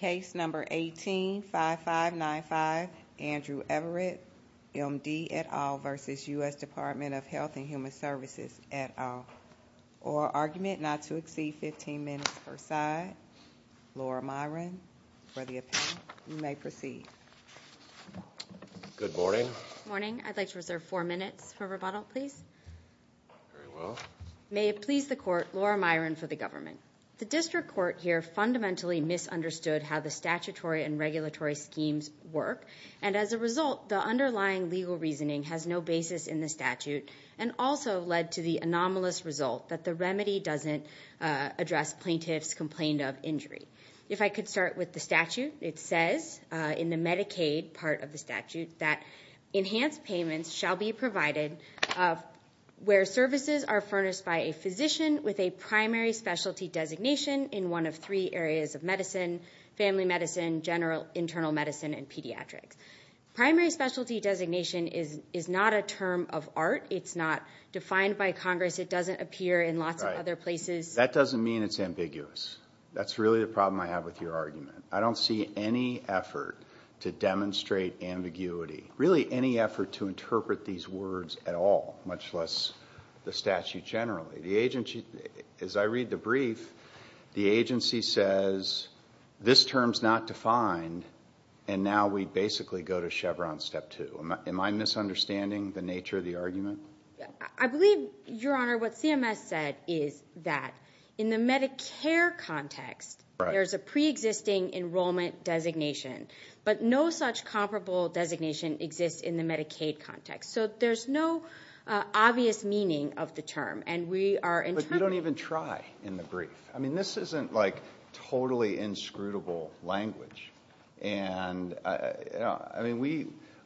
185595 Andrew Averett MD et al. v. U.S. Department of Health and Human Services et al. Or argument not to exceed 15 minutes per side, Laura Myron for the opinion. You may proceed. Good morning. Good morning. I'd like to reserve four minutes for rebuttal, please. Very well. May it please the court, Laura Myron for the government. The district court here fundamentally misunderstood how the statutory and regulatory schemes work, and as a result, the underlying legal reasoning has no basis in the statute and also led to the anomalous result that the remedy doesn't address plaintiffs' complaint of injury. If I could start with the statute, it says in the Medicaid part of the statute that enhanced payments shall be provided where services are furnished by a physician with a primary specialty designation in one of three areas of medicine, family medicine, general internal medicine, and pediatrics. Primary specialty designation is not a term of art. It's not defined by Congress. It doesn't appear in lots of other places. That doesn't mean it's ambiguous. That's really the problem I have with your argument. I don't see any effort to demonstrate ambiguity, really any effort to interpret these words at all, much less the statute generally. As I read the brief, the agency says this term's not defined, and now we basically go to Chevron step two. Am I misunderstanding the nature of the argument? I believe, Your Honor, what CMS said is that in the Medicare context, there's a preexisting enrollment designation, but no such comparable designation exists in the Medicaid context. So there's no obvious meaning of the term, and we are interpreting it. But we don't even try in the brief. I mean this isn't like totally inscrutable language.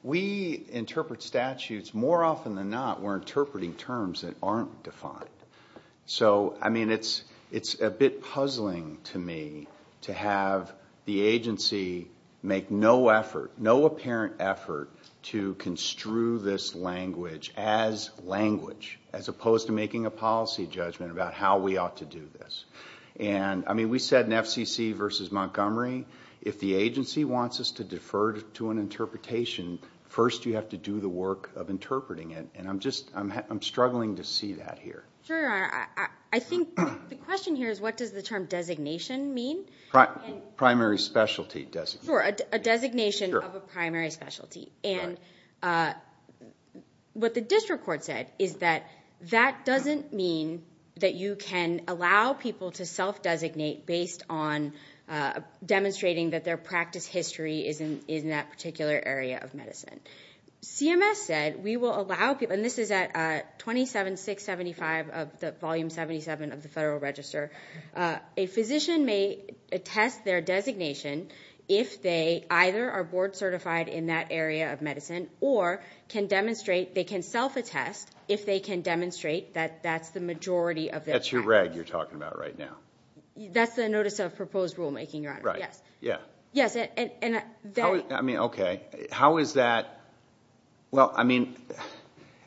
We interpret statutes. More often than not, we're interpreting terms that aren't defined. So, I mean, it's a bit puzzling to me to have the agency make no effort, no apparent effort to construe this language as language, as opposed to making a policy judgment about how we ought to do this. And, I mean, we said in FCC v. Montgomery, if the agency wants us to defer to an interpretation, first you have to do the work of interpreting it, and I'm struggling to see that here. Sure, Your Honor. I think the question here is what does the term designation mean? Primary specialty designation. Sure, a designation of a primary specialty. And what the district court said is that that doesn't mean that you can allow people to self-designate based on demonstrating that their practice history is in that particular area of medicine. CMS said we will allow people, and this is at 27.675 of the Volume 77 of the Federal Register, a physician may attest their designation if they either are board certified in that area of medicine or can demonstrate, they can self-attest if they can demonstrate that that's the majority of their practice. That's your reg you're talking about right now. That's the Notice of Proposed Rulemaking, Your Honor. Right, yeah. I mean, okay. How is that? Well, I mean,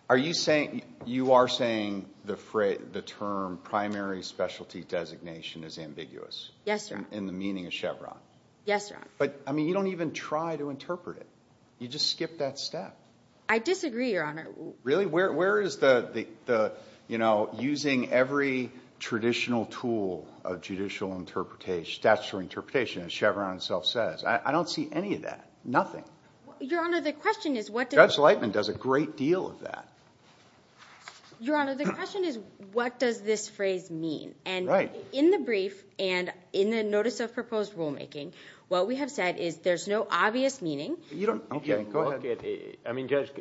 are you saying you are saying the term primary specialty designation is ambiguous? Yes, Your Honor. In the meaning of Chevron? Yes, Your Honor. But, I mean, you don't even try to interpret it. You just skip that step. I disagree, Your Honor. Really? I mean, where is the, you know, using every traditional tool of judicial interpretation, statutory interpretation, as Chevron itself says? I don't see any of that. Nothing. Your Honor, the question is what does... Judge Lightman does a great deal of that. Your Honor, the question is what does this phrase mean? Right. And in the brief and in the Notice of Proposed Rulemaking, what we have said is there's no obvious meaning. Okay, go ahead. I mean, Judge,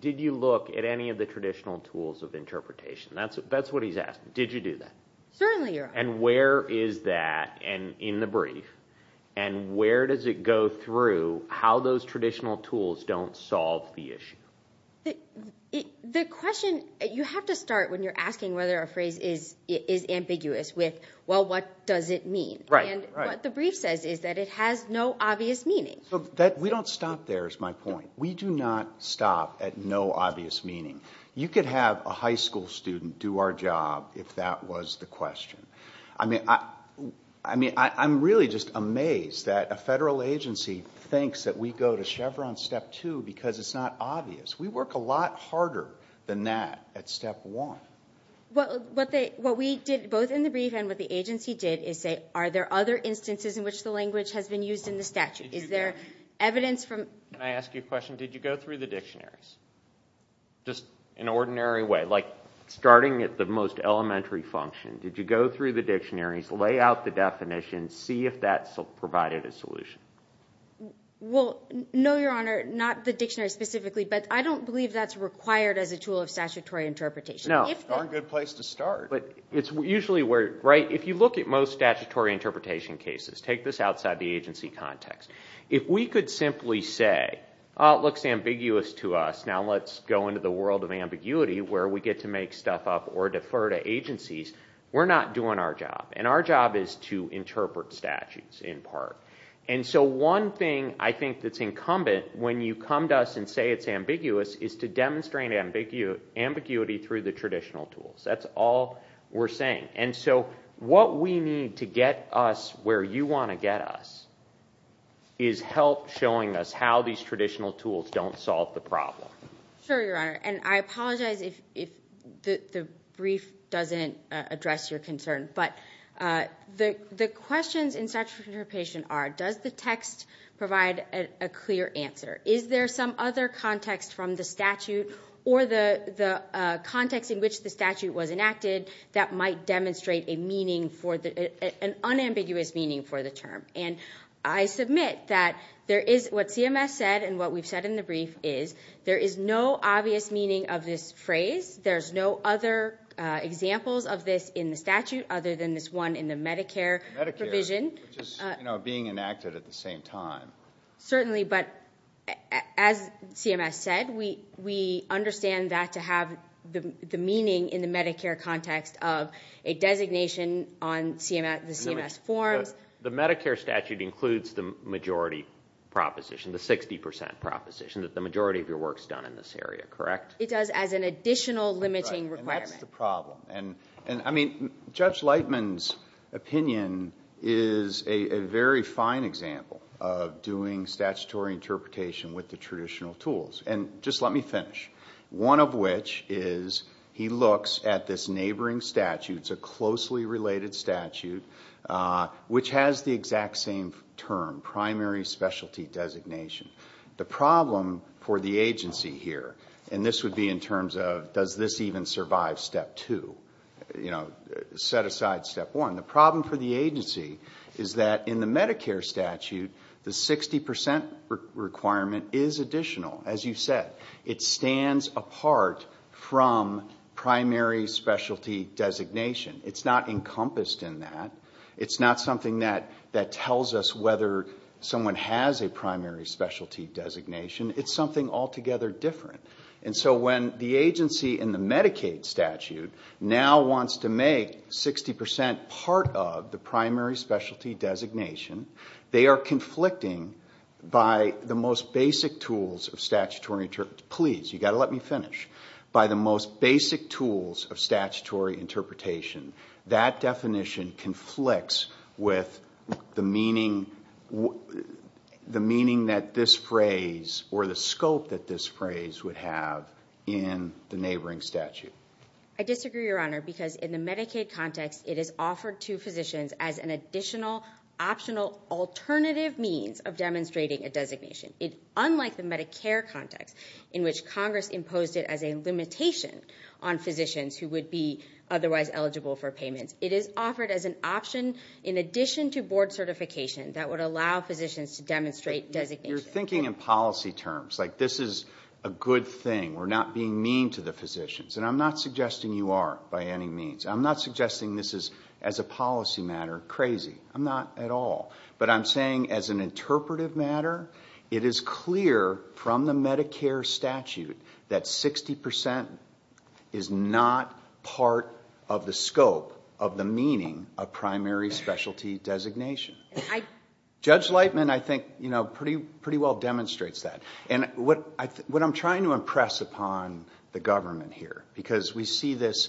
did you look at any of the traditional tools of interpretation? That's what he's asking. Did you do that? Certainly, Your Honor. And where is that in the brief? And where does it go through how those traditional tools don't solve the issue? The question, you have to start when you're asking whether a phrase is ambiguous with, well, what does it mean? Right, right. And what the brief says is that it has no obvious meaning. We don't stop there is my point. We do not stop at no obvious meaning. You could have a high school student do our job if that was the question. I mean, I'm really just amazed that a federal agency thinks that we go to Chevron Step 2 because it's not obvious. We work a lot harder than that at Step 1. What we did both in the brief and what the agency did is say, are there other instances in which the language has been used in the statute? Is there evidence from? Can I ask you a question? Did you go through the dictionaries just in an ordinary way, like starting at the most elementary function? Did you go through the dictionaries, lay out the definition, see if that provided a solution? Well, no, Your Honor, not the dictionary specifically, but I don't believe that's required as a tool of statutory interpretation. No. It's a darn good place to start. But it's usually where, right, if you look at most statutory interpretation cases, take this outside the agency context. If we could simply say, oh, it looks ambiguous to us, now let's go into the world of ambiguity where we get to make stuff up or defer to agencies, we're not doing our job. And our job is to interpret statutes in part. And so one thing I think that's incumbent when you come to us and say it's ambiguous is to demonstrate ambiguity through the traditional tools. That's all we're saying. And so what we need to get us where you want to get us is help showing us how these traditional tools don't solve the problem. Sure, Your Honor, and I apologize if the brief doesn't address your concern, but the questions in statutory interpretation are, does the text provide a clear answer? Is there some other context from the statute or the context in which the statute was enacted that might demonstrate an unambiguous meaning for the term? And I submit that what CMS said and what we've said in the brief is there is no obvious meaning of this phrase. There's no other examples of this in the statute other than this one in the Medicare provision. Medicare, which is being enacted at the same time. Certainly, but as CMS said, we understand that to have the meaning in the Medicare context of a designation on the CMS forms. The Medicare statute includes the majority proposition, the 60% proposition, that the majority of your work is done in this area, correct? It does as an additional limiting requirement. Right, and that's the problem. Judge Lightman's opinion is a very fine example of doing statutory interpretation with the traditional tools. And just let me finish. One of which is he looks at this neighboring statute, it's a closely related statute, which has the exact same term, primary specialty designation. The problem for the agency here, and this would be in terms of does this even survive step two? You know, set aside step one. The problem for the agency is that in the Medicare statute, the 60% requirement is additional, as you said. It stands apart from primary specialty designation. It's not encompassed in that. It's not something that tells us whether someone has a primary specialty designation. It's something altogether different. And so when the agency in the Medicaid statute now wants to make 60% part of the primary specialty designation, they are conflicting by the most basic tools of statutory interpretation. Please, you've got to let me finish. By the most basic tools of statutory interpretation. That definition conflicts with the meaning that this phrase or the scope that this phrase would have in the neighboring statute. I disagree, Your Honor, because in the Medicaid context, it is offered to physicians as an additional, optional, alternative means of demonstrating a designation. Unlike the Medicare context, in which Congress imposed it as a limitation on physicians who would be otherwise eligible for payments, it is offered as an option in addition to board certification that would allow physicians to demonstrate designations. You're thinking in policy terms, like this is a good thing. We're not being mean to the physicians. And I'm not suggesting you are by any means. I'm not suggesting this is, as a policy matter, crazy. I'm not at all. But I'm saying as an interpretive matter, it is clear from the Medicare statute that 60% is not part of the scope of the meaning of primary specialty designation. Judge Lightman, I think, pretty well demonstrates that. And what I'm trying to impress upon the government here, because we see this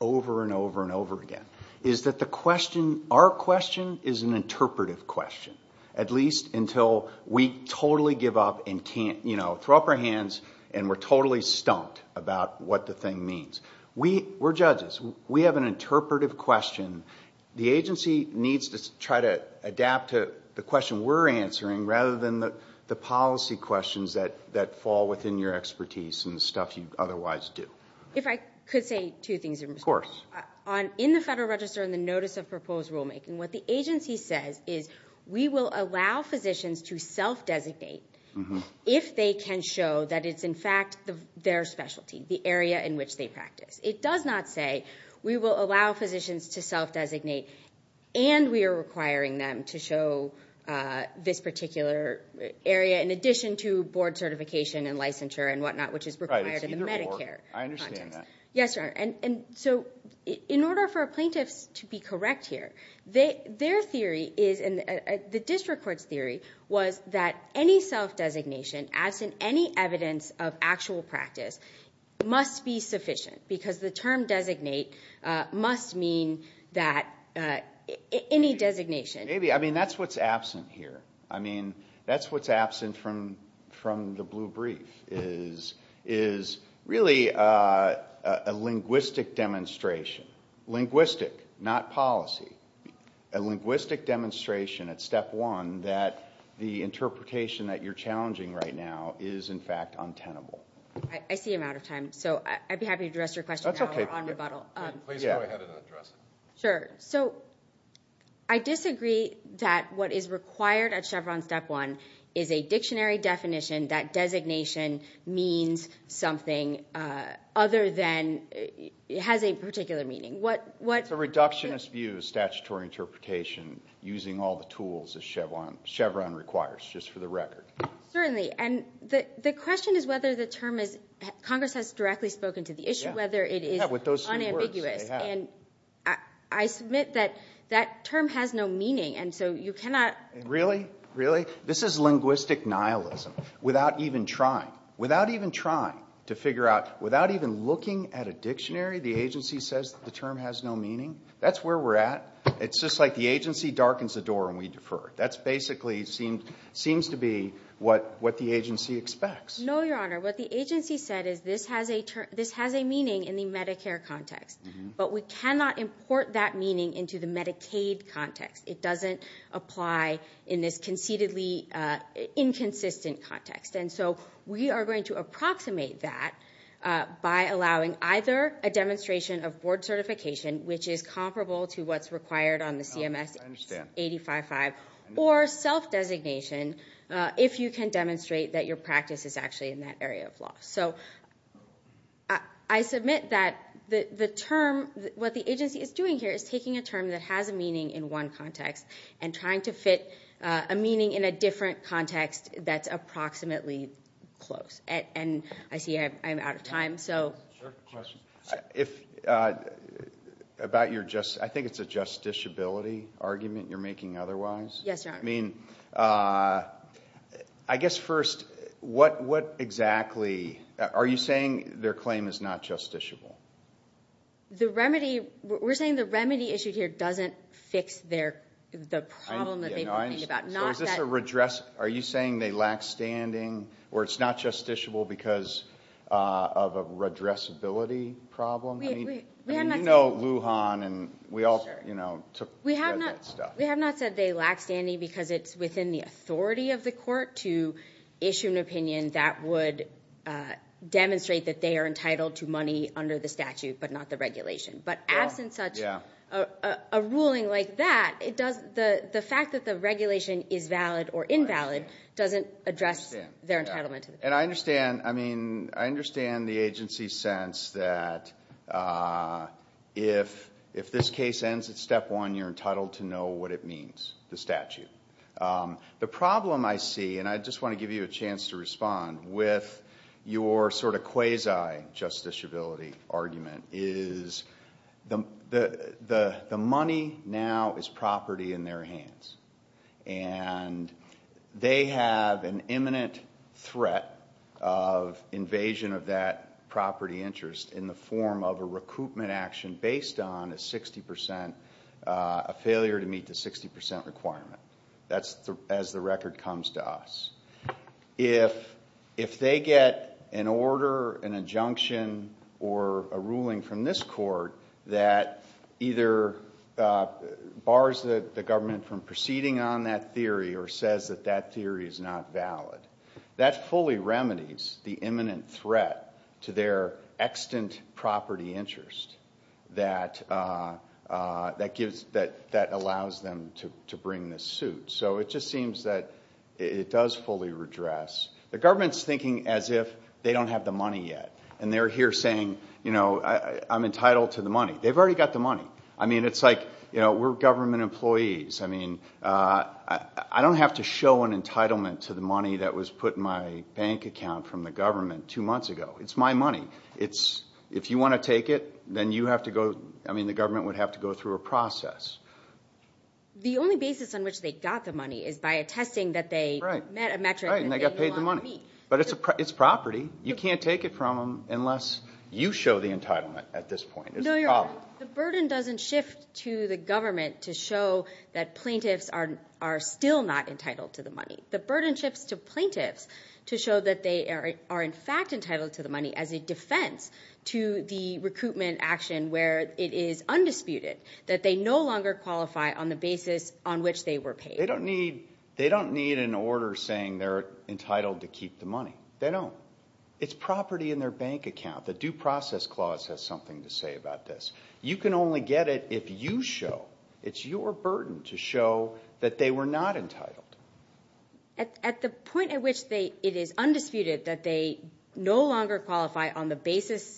over and over and over again, is that the question, our question, is an interpretive question. At least until we totally give up and can't, you know, throw up our hands and we're totally stumped about what the thing means. We're judges. We have an interpretive question. The agency needs to try to adapt to the question we're answering rather than the policy questions that fall within your expertise and the stuff you otherwise do. If I could say two things. Of course. In the Federal Register and the Notice of Proposed Rulemaking, what the agency says is, we will allow physicians to self-designate if they can show that it's, in fact, their specialty, the area in which they practice. It does not say we will allow physicians to self-designate and we are requiring them to show this particular area, in addition to board certification and licensure and whatnot, which is required in the Medicare context. Right, it's either or. I understand that. Yes, Your Honor. And so in order for plaintiffs to be correct here, their theory is, and the district court's theory, was that any self-designation absent any evidence of actual practice must be sufficient because the term designate must mean that any designation. Maybe. I mean, that's what's absent here. I mean, that's what's absent from the blue brief is really a linguistic demonstration, linguistic, not policy, a linguistic demonstration at step one that the interpretation that you're challenging right now is, in fact, untenable. I see you're out of time, so I'd be happy to address your question now or on rebuttal. That's okay. Please go ahead and address it. Sure. So I disagree that what is required at Chevron step one is a dictionary definition that designation means something other than it has a particular meaning. It's a reductionist view of statutory interpretation using all the tools that Chevron requires, just for the record. Certainly. And the question is whether the term is, Congress has directly spoken to the issue, whether it is unambiguous. And I submit that that term has no meaning, and so you cannot. Really? Really? This is linguistic nihilism. Without even trying, without even trying to figure out, without even looking at a dictionary, the agency says the term has no meaning? That's where we're at. It's just like the agency darkens the door and we defer. That basically seems to be what the agency expects. No, Your Honor. What the agency said is this has a meaning in the Medicare context, but we cannot import that meaning into the Medicaid context. It doesn't apply in this conceitedly inconsistent context. And so we are going to approximate that by allowing either a demonstration of board certification, which is comparable to what's required on the CMS 855, or self-designation, if you can demonstrate that your practice is actually in that area of law. So I submit that the term, what the agency is doing here is taking a term that has a meaning in one context and trying to fit a meaning in a different context that's approximately close. And I see I'm out of time, so. Your Honor, I have a question. I think it's a justiciability argument you're making otherwise. Yes, Your Honor. I mean, I guess first, what exactly? Are you saying their claim is not justiciable? We're saying the remedy issued here doesn't fix the problem that they're talking about. Are you saying they lack standing or it's not justiciable because of a redressability problem? I mean, you know Lujan and we all, you know, took care of that stuff. We have not said they lack standing because it's within the authority of the court to issue an opinion that would demonstrate that they are entitled to money under the statute but not the regulation. But absent such a ruling like that, the fact that the regulation is valid or invalid doesn't address their entitlement. And I understand. I mean, I understand the agency's sense that if this case ends at step one, you're entitled to know what it means, the statute. The problem I see, and I just want to give you a chance to respond, with your sort of quasi-justiciability argument is the money now is property in their hands. And they have an imminent threat of invasion of that property interest in the form of a recoupment action based on a 60% failure to meet the 60% requirement. That's as the record comes to us. If they get an order, an injunction, or a ruling from this court that either bars the government from proceeding on that theory or says that that theory is not valid, that fully remedies the imminent threat to their extant property interest that allows them to bring this suit. So it just seems that it does fully redress. The government's thinking as if they don't have the money yet. And they're here saying, you know, I'm entitled to the money. They've already got the money. I mean, it's like, you know, we're government employees. I mean, I don't have to show an entitlement to the money that was put in my bank account from the government two months ago. It's my money. If you want to take it, then you have to go – I mean, the government would have to go through a process. The only basis on which they got the money is by attesting that they met a metric that they didn't want to meet. Right, and they got paid the money. But it's property. You can't take it from them unless you show the entitlement at this point. No, you're right. The burden doesn't shift to the government to show that plaintiffs are still not entitled to the money. The burden shifts to plaintiffs to show that they are in fact entitled to the money as a defense to the recruitment action where it is undisputed that they no longer qualify on the basis on which they were paid. They don't need an order saying they're entitled to keep the money. They don't. It's property in their bank account. The Due Process Clause has something to say about this. You can only get it if you show. It's your burden to show that they were not entitled. At the point at which it is undisputed that they no longer qualify on the basis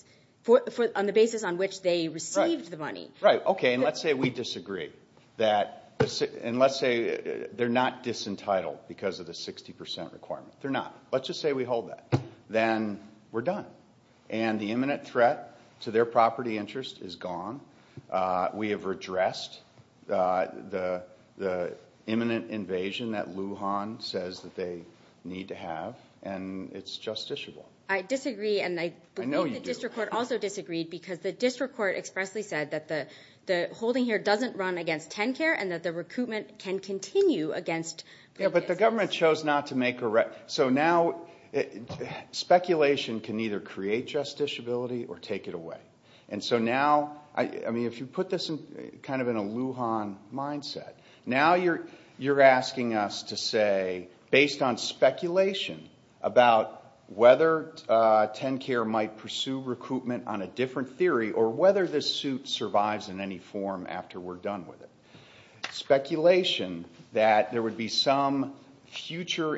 on which they received the money. Right, okay, and let's say we disagree. And let's say they're not disentitled because of the 60% requirement. They're not. Let's just say we hold that. Then we're done. And the imminent threat to their property interest is gone. We have redressed the imminent invasion that Lujan says that they need to have. And it's justiciable. I disagree. I know you do. And I believe the district court also disagreed because the district court expressly said that the holding here doesn't run against TennCare and that the recruitment can continue against plaintiffs. Yeah, but the government chose not to make a right. So now speculation can either create justiciability or take it away. And so now, I mean, if you put this kind of in a Lujan mindset, now you're asking us to say, based on speculation about whether TennCare might pursue recruitment on a different theory or whether this suit survives in any form after we're done with it. It's speculation that there would be some future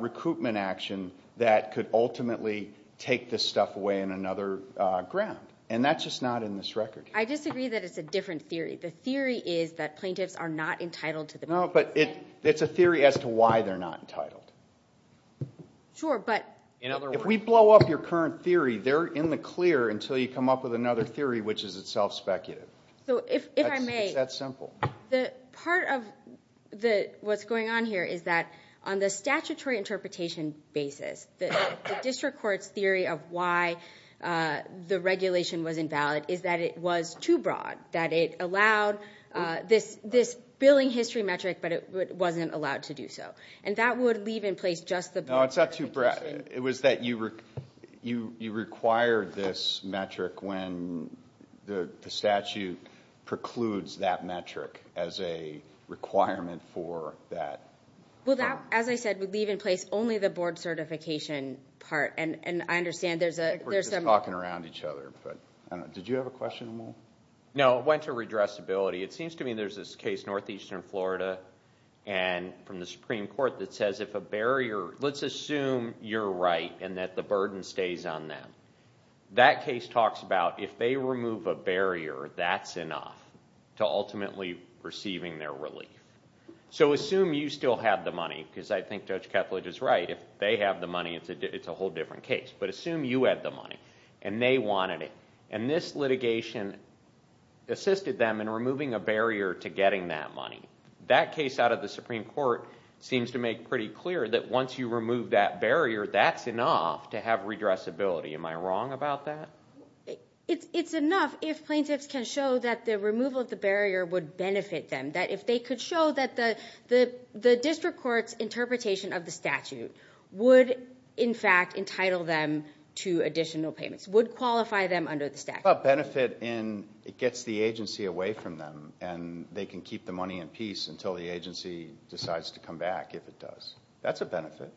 recruitment action that could ultimately take this stuff away on another ground. And that's just not in this record. I disagree that it's a different theory. The theory is that plaintiffs are not entitled to the— No, but it's a theory as to why they're not entitled. Sure, but— If we blow up your current theory, they're in the clear until you come up with another theory, which is itself speculative. So if I may— It's that simple. Part of what's going on here is that on the statutory interpretation basis, the district court's theory of why the regulation was invalid is that it was too broad, that it allowed this billing history metric, but it wasn't allowed to do so. And that would leave in place just the— No, it's not too broad. It was that you required this metric when the statute precludes that metric as a requirement for that. Well, that, as I said, would leave in place only the board certification part. And I understand there's a— I think we're just talking around each other, but I don't know. Did you have a question, Amal? No, it went to redressability. It seems to me there's this case, Northeastern Florida, from the Supreme Court, that says if a barrier— Let's assume you're right and that the burden stays on them. That case talks about if they remove a barrier, that's enough to ultimately receiving their relief. So assume you still have the money, because I think Judge Ketledge is right. If they have the money, it's a whole different case. But assume you had the money and they wanted it. And this litigation assisted them in removing a barrier to getting that money. That case out of the Supreme Court seems to make pretty clear that once you remove that barrier, that's enough to have redressability. Am I wrong about that? It's enough if plaintiffs can show that the removal of the barrier would benefit them, that if they could show that the district court's interpretation of the statute would, in fact, entitle them to additional payments, would qualify them under the statute. Benefit in it gets the agency away from them, and they can keep the money in peace until the agency decides to come back, if it does. That's a benefit.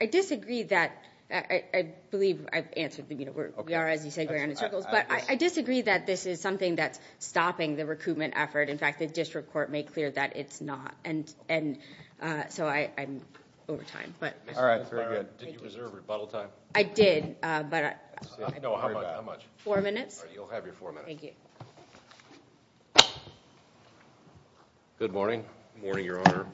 I disagree that—I believe I've answered the—we are, as you say, going in circles. But I disagree that this is something that's stopping the recoupment effort. In fact, the district court made clear that it's not, and so I'm over time. All right, very good. Did you reserve rebuttal time? I did, but I— No, how much? Four minutes. All right, you'll have your four minutes. Thank you. Good morning. Good morning, Your Honor.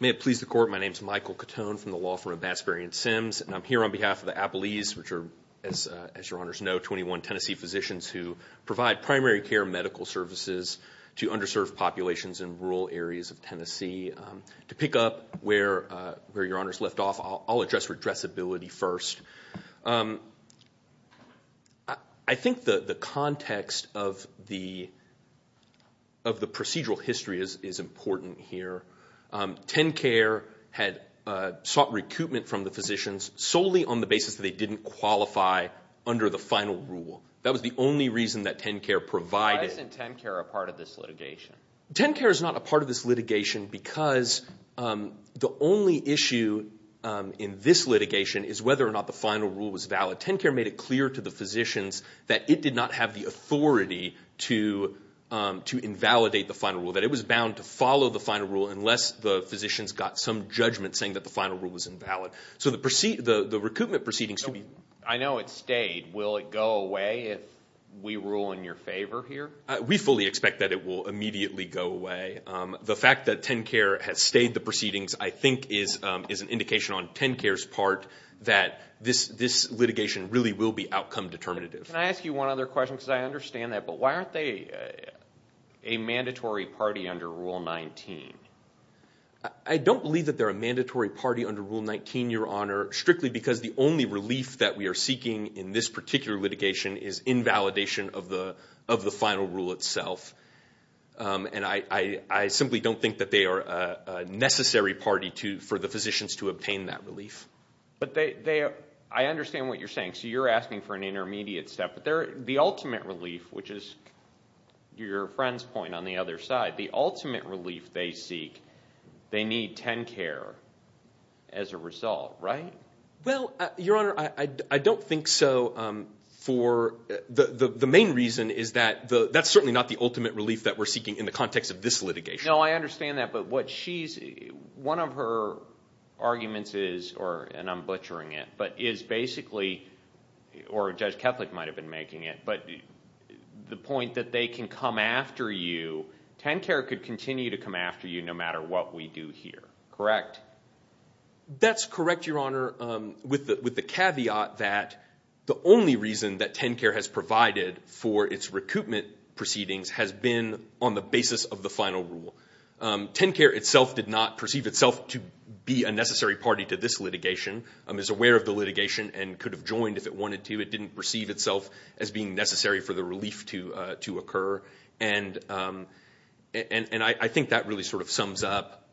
May it please the Court, my name is Michael Cotone from the law firm of Bassbury & Sims, and I'm here on behalf of the Appellees, which are, as Your Honors know, 21 Tennessee physicians who provide primary care medical services to underserved populations in rural areas of Tennessee. To pick up where Your Honors left off, I'll address redressability first. I think the context of the procedural history is important here. TennCare had sought recoupment from the physicians solely on the basis that they didn't qualify under the final rule. That was the only reason that TennCare provided— Why isn't TennCare a part of this litigation? TennCare is not a part of this litigation because the only issue in this litigation is whether or not the final rule was valid. TennCare made it clear to the physicians that it did not have the authority to invalidate the final rule, that it was bound to follow the final rule unless the physicians got some judgment saying that the final rule was invalid. So the recoupment proceedings— I know it stayed. Will it go away if we rule in your favor here? We fully expect that it will immediately go away. The fact that TennCare has stayed the proceedings I think is an indication on TennCare's part that this litigation really will be outcome determinative. Can I ask you one other question because I understand that? But why aren't they a mandatory party under Rule 19? I don't believe that they're a mandatory party under Rule 19, Your Honor, strictly because the only relief that we are seeking in this particular litigation is invalidation of the final rule itself. And I simply don't think that they are a necessary party for the physicians to obtain that relief. But I understand what you're saying. So you're asking for an intermediate step. But the ultimate relief, which is your friend's point on the other side, the ultimate relief they seek, they need TennCare as a result, right? Well, Your Honor, I don't think so for—the main reason is that that's certainly not the ultimate relief that we're seeking in the context of this litigation. No, I understand that. But what she's—one of her arguments is, and I'm butchering it, but is basically—or Judge Kethleck might have been making it— but the point that they can come after you, TennCare could continue to come after you no matter what we do here, correct? That's correct, Your Honor, with the caveat that the only reason that TennCare has provided for its recoupment proceedings has been on the basis of the final rule. TennCare itself did not perceive itself to be a necessary party to this litigation. It was aware of the litigation and could have joined if it wanted to. It didn't perceive itself as being necessary for the relief to occur. And I think that really sort of sums up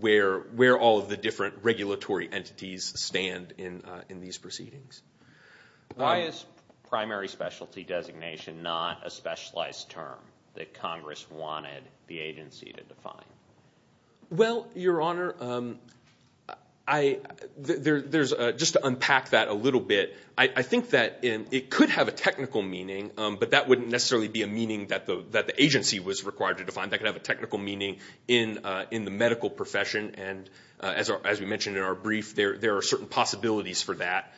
where all of the different regulatory entities stand in these proceedings. Why is primary specialty designation not a specialized term that Congress wanted the agency to define? Well, Your Honor, just to unpack that a little bit, I think that it could have a technical meaning, but that wouldn't necessarily be a meaning that the agency was required to define. That could have a technical meaning in the medical profession. And as we mentioned in our brief, there are certain possibilities for that.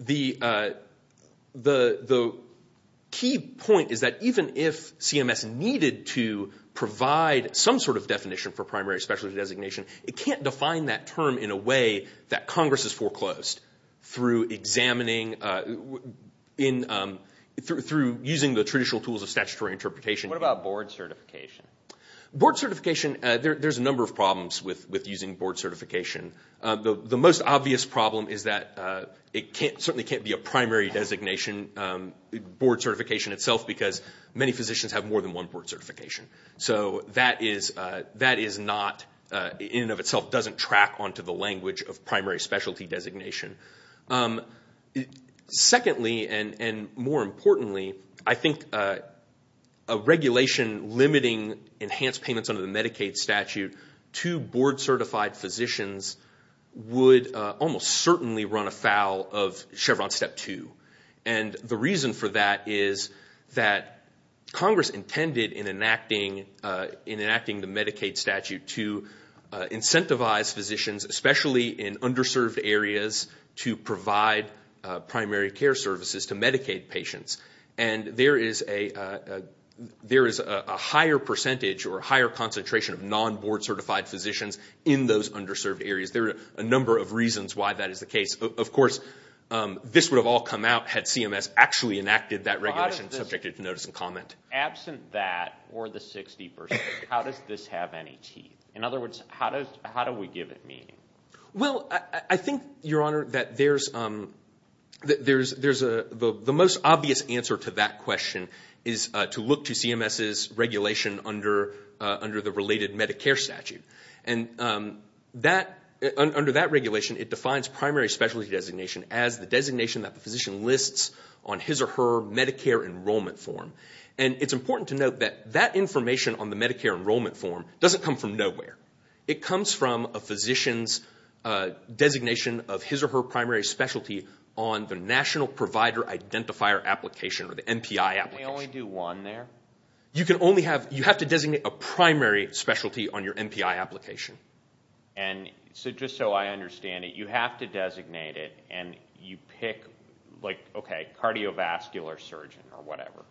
The key point is that even if CMS needed to provide some sort of definition for primary specialty designation, it can't define that term in a way that Congress has foreclosed through examining, through using the traditional tools of statutory interpretation. What about board certification? Board certification, there's a number of problems with using board certification. The most obvious problem is that it certainly can't be a primary designation board certification itself because many physicians have more than one board certification. So that in and of itself doesn't track onto the language of primary specialty designation. Secondly, and more importantly, I think a regulation limiting enhanced payments under the Medicaid statute to board certified physicians would almost certainly run afoul of Chevron Step 2. And the reason for that is that Congress intended in enacting the Medicaid statute to incentivize physicians, especially in underserved areas, to provide primary care services to Medicaid patients. And there is a higher percentage or higher concentration of non-board certified physicians in those underserved areas. There are a number of reasons why that is the case. Of course, this would have all come out had CMS actually enacted that regulation, subjected to notice and comment. Absent that or the 60%, how does this have any teeth? In other words, how do we give it meaning? Well, I think, Your Honor, that the most obvious answer to that question is to look to CMS's regulation under the related Medicare statute. And under that regulation, it defines primary specialty designation as the designation that the physician lists on his or her Medicare enrollment form. And it's important to note that that information on the Medicare enrollment form doesn't come from nowhere. It comes from a physician's designation of his or her primary specialty on the National Provider Identifier application, or the MPI application. Can we only do one there? You have to designate a primary specialty on your MPI application. And just so I understand it, you have to designate it and you pick, like, okay, cardiovascular surgeon or whatever.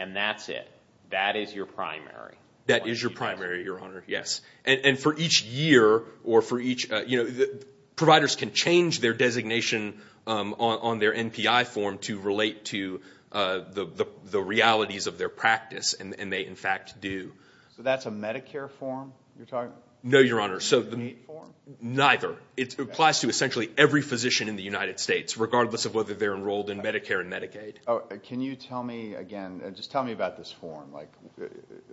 And that's it. That is your primary. That is your primary, Your Honor, yes. And for each year or for each, you know, providers can change their designation on their MPI form to relate to the realities of their practice. And they, in fact, do. So that's a Medicare form you're talking about? No, Your Honor. A need form? Neither. It applies to essentially every physician in the United States, regardless of whether they're enrolled in Medicare and Medicaid. Can you tell me, again, just tell me about this form? Like,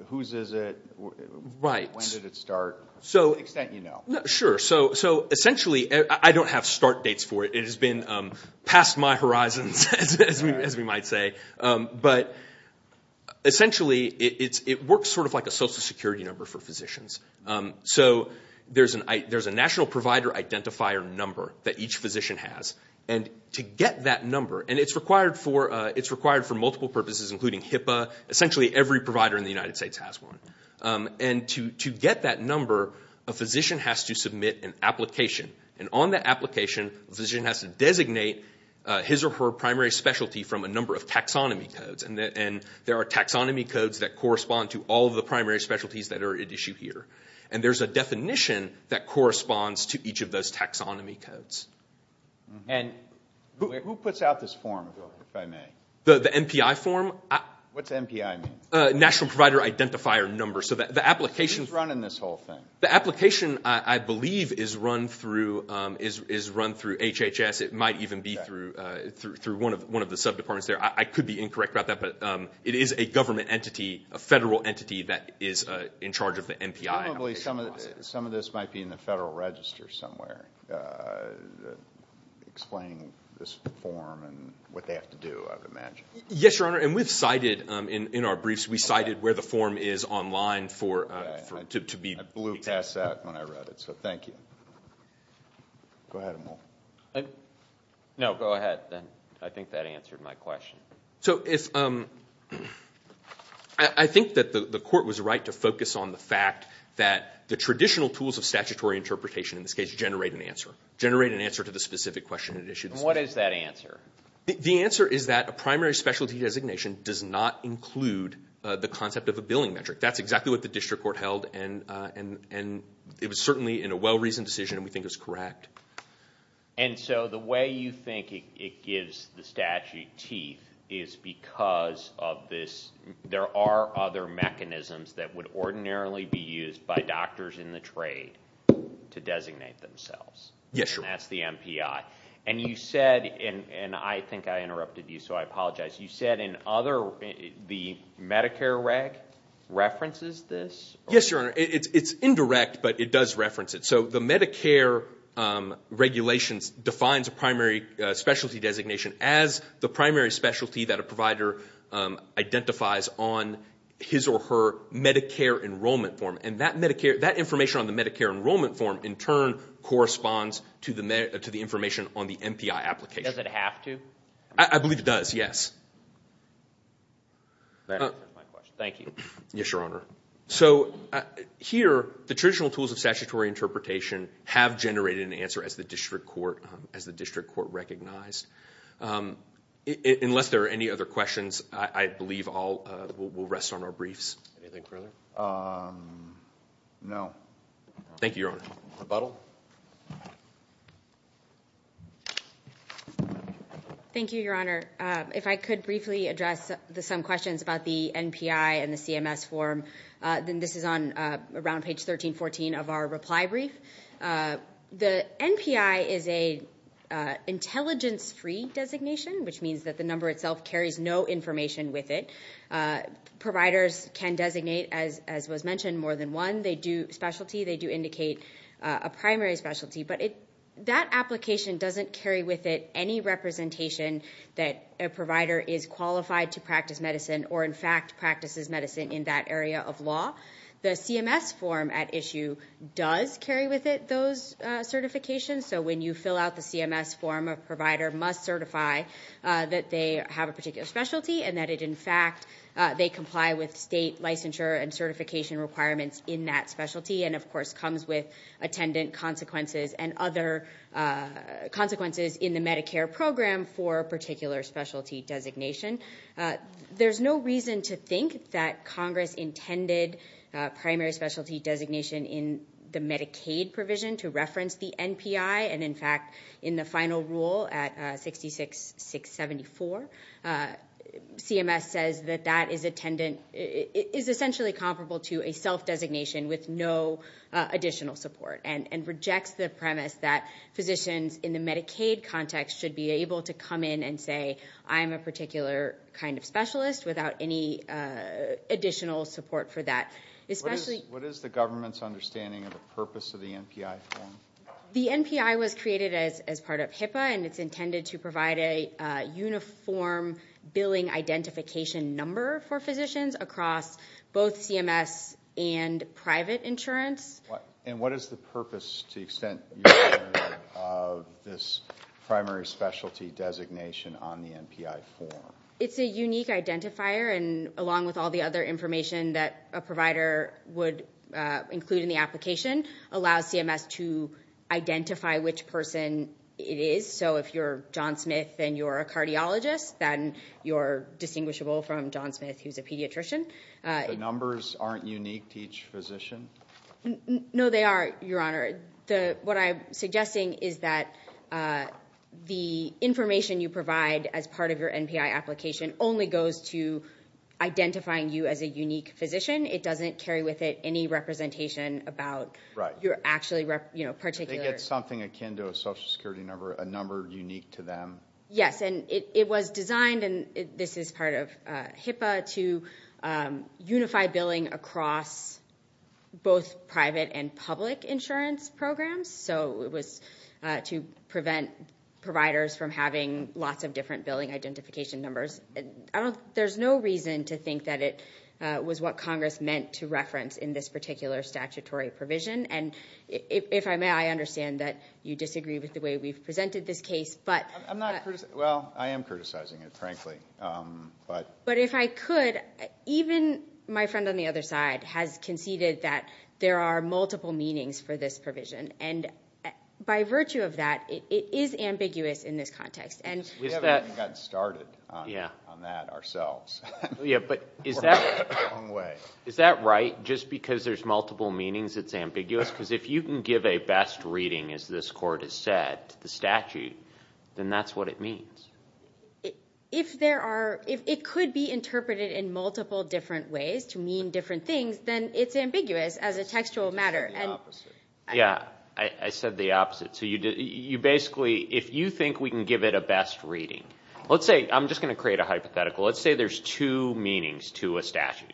whose is it? Right. When did it start? To what extent do you know? Sure. So essentially, I don't have start dates for it. It has been past my horizons, as we might say. But essentially, it works sort of like a social security number for physicians. So there's a national provider identifier number that each physician has. And to get that number, and it's required for multiple purposes, including HIPAA, essentially every provider in the United States has one. And to get that number, a physician has to submit an application. And on that application, a physician has to designate his or her primary specialty from a number of taxonomy codes. And there are taxonomy codes that correspond to all of the primary specialties that are at issue here. And there's a definition that corresponds to each of those taxonomy codes. And who puts out this form, if I may? The MPI form? What's MPI mean? National Provider Identifier Number. So the application… Who's running this whole thing? The application, I believe, is run through HHS. It might even be through one of the sub-departments there. I could be incorrect about that, but it is a government entity, a federal entity that is in charge of the MPI application process. Probably some of this might be in the Federal Register somewhere, explaining this form and what they have to do, I would imagine. Yes, Your Honor. And we've cited in our briefs, we cited where the form is online to be… I blew past that when I read it, so thank you. Go ahead, Amol. No, go ahead. I think that answered my question. So I think that the Court was right to focus on the fact that the traditional tools of statutory interpretation in this case generate an answer, generate an answer to the specific question at issue. And what is that answer? The answer is that a primary specialty designation does not include the concept of a billing metric. That's exactly what the district court held, and it was certainly in a well-reasoned decision, and we think it's correct. And so the way you think it gives the statute teeth is because of this. There are other mechanisms that would ordinarily be used by doctors in the trade to designate themselves. Yes, Your Honor. And that's the MPI. And you said, and I think I interrupted you, so I apologize. You said in other, the Medicare reg references this? Yes, Your Honor. It's indirect, but it does reference it. So the Medicare regulations defines a primary specialty designation as the primary specialty that a provider identifies on his or her Medicare enrollment form. And that information on the Medicare enrollment form in turn corresponds to the information on the MPI application. Does it have to? I believe it does, yes. That answers my question. Thank you. Yes, Your Honor. So here, the traditional tools of statutory interpretation have generated an answer as the district court recognized. Unless there are any other questions, I believe we'll rest on our briefs. Anything further? No. Thank you, Your Honor. Rebuttal? Thank you, Your Honor. If I could briefly address some questions about the MPI and the CMS form, then this is on around page 1314 of our reply brief. The MPI is an intelligence-free designation, which means that the number itself carries no information with it. Providers can designate, as was mentioned, more than one specialty. They do indicate a primary specialty. But that application doesn't carry with it any representation that a provider is qualified to practice medicine or, in fact, practices medicine in that area of law. The CMS form at issue does carry with it those certifications. So when you fill out the CMS form, a provider must certify that they have a particular specialty and that, in fact, they comply with state licensure and certification requirements in that specialty and, of course, comes with attendant consequences and other consequences in the Medicare program for a particular specialty designation. There's no reason to think that Congress intended primary specialty designation in the Medicaid provision to reference the MPI. And, in fact, in the final rule at 66-674, CMS says that that is essentially comparable to a self-designation with no additional support and rejects the premise that physicians in the Medicaid context should be able to come in and say, I'm a particular kind of specialist without any additional support for that. What is the government's understanding of the purpose of the MPI form? The MPI was created as part of HIPAA, and it's intended to provide a uniform billing identification number for physicians across both CMS and private insurance. And what is the purpose to the extent of this primary specialty designation on the MPI form? It's a unique identifier, and along with all the other information that a provider would include in the application, allows CMS to identify which person it is. So if you're John Smith and you're a cardiologist, then you're distinguishable from John Smith who's a pediatrician. The numbers aren't unique to each physician? No, they are, Your Honor. What I'm suggesting is that the information you provide as part of your MPI application only goes to identifying you as a unique physician. It doesn't carry with it any representation about your actually particular – I think it's something akin to a social security number, a number unique to them. Yes, and it was designed, and this is part of HIPAA, to unify billing across both private and public insurance programs. So it was to prevent providers from having lots of different billing identification numbers. There's no reason to think that it was what Congress meant to reference in this particular statutory provision. And if I may, I understand that you disagree with the way we've presented this case. Well, I am criticizing it, frankly. But if I could, even my friend on the other side has conceded that there are multiple meanings for this provision. And by virtue of that, it is ambiguous in this context. We haven't even gotten started on that ourselves. Yeah, but is that right? Just because there's multiple meanings, it's ambiguous? Because if you can give a best reading, as this Court has said, to the statute, then that's what it means. If there are – if it could be interpreted in multiple different ways to mean different things, then it's ambiguous as a textual matter. You said the opposite. Yeah, I said the opposite. So you basically – if you think we can give it a best reading – let's say – I'm just going to create a hypothetical. Let's say there's two meanings to a statute,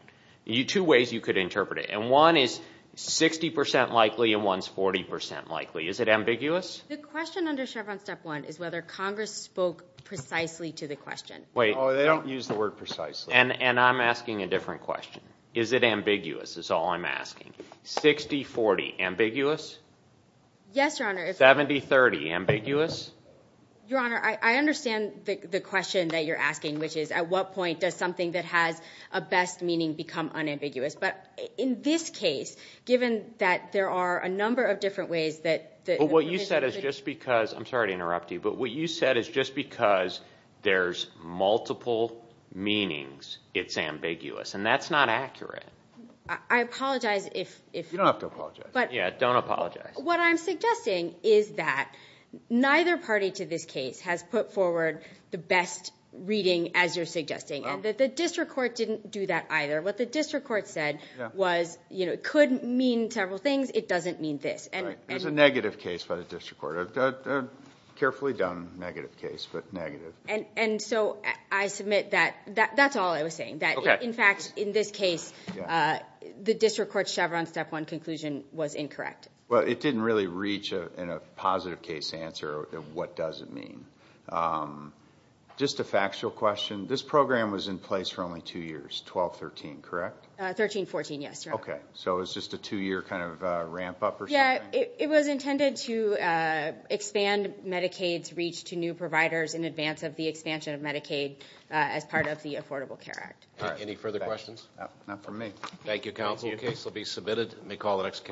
two ways you could interpret it. And one is 60 percent likely and one's 40 percent likely. Is it ambiguous? The question under Chevron Step 1 is whether Congress spoke precisely to the question. Wait. Oh, they don't use the word precisely. And I'm asking a different question. Is it ambiguous is all I'm asking. 60-40, ambiguous? Yes, Your Honor. 70-30, ambiguous? Your Honor, I understand the question that you're asking, which is at what point does something that has a best meaning become unambiguous? But in this case, given that there are a number of different ways that – But what you said is just because – I'm sorry to interrupt you, but what you said is just because there's multiple meanings, it's ambiguous. And that's not accurate. I apologize if – You don't have to apologize. Yeah, don't apologize. What I'm suggesting is that neither party to this case has put forward the best reading as you're suggesting. And the district court didn't do that either. What the district court said was it could mean several things. It doesn't mean this. There's a negative case by the district court. A carefully done negative case, but negative. And so I submit that that's all I was saying, that, in fact, in this case, the district court's Chevron Step 1 conclusion was incorrect. Well, it didn't really reach a positive case answer of what does it mean. Just a factual question. This program was in place for only two years, 12-13, correct? 13-14, yes, Your Honor. Okay. So it was just a two-year kind of ramp up or something? Yeah, it was intended to expand Medicaid's reach to new providers in advance of the expansion of Medicaid as part of the Affordable Care Act. Any further questions? Not from me. Thank you, counsel. The case will be submitted. May call the next case.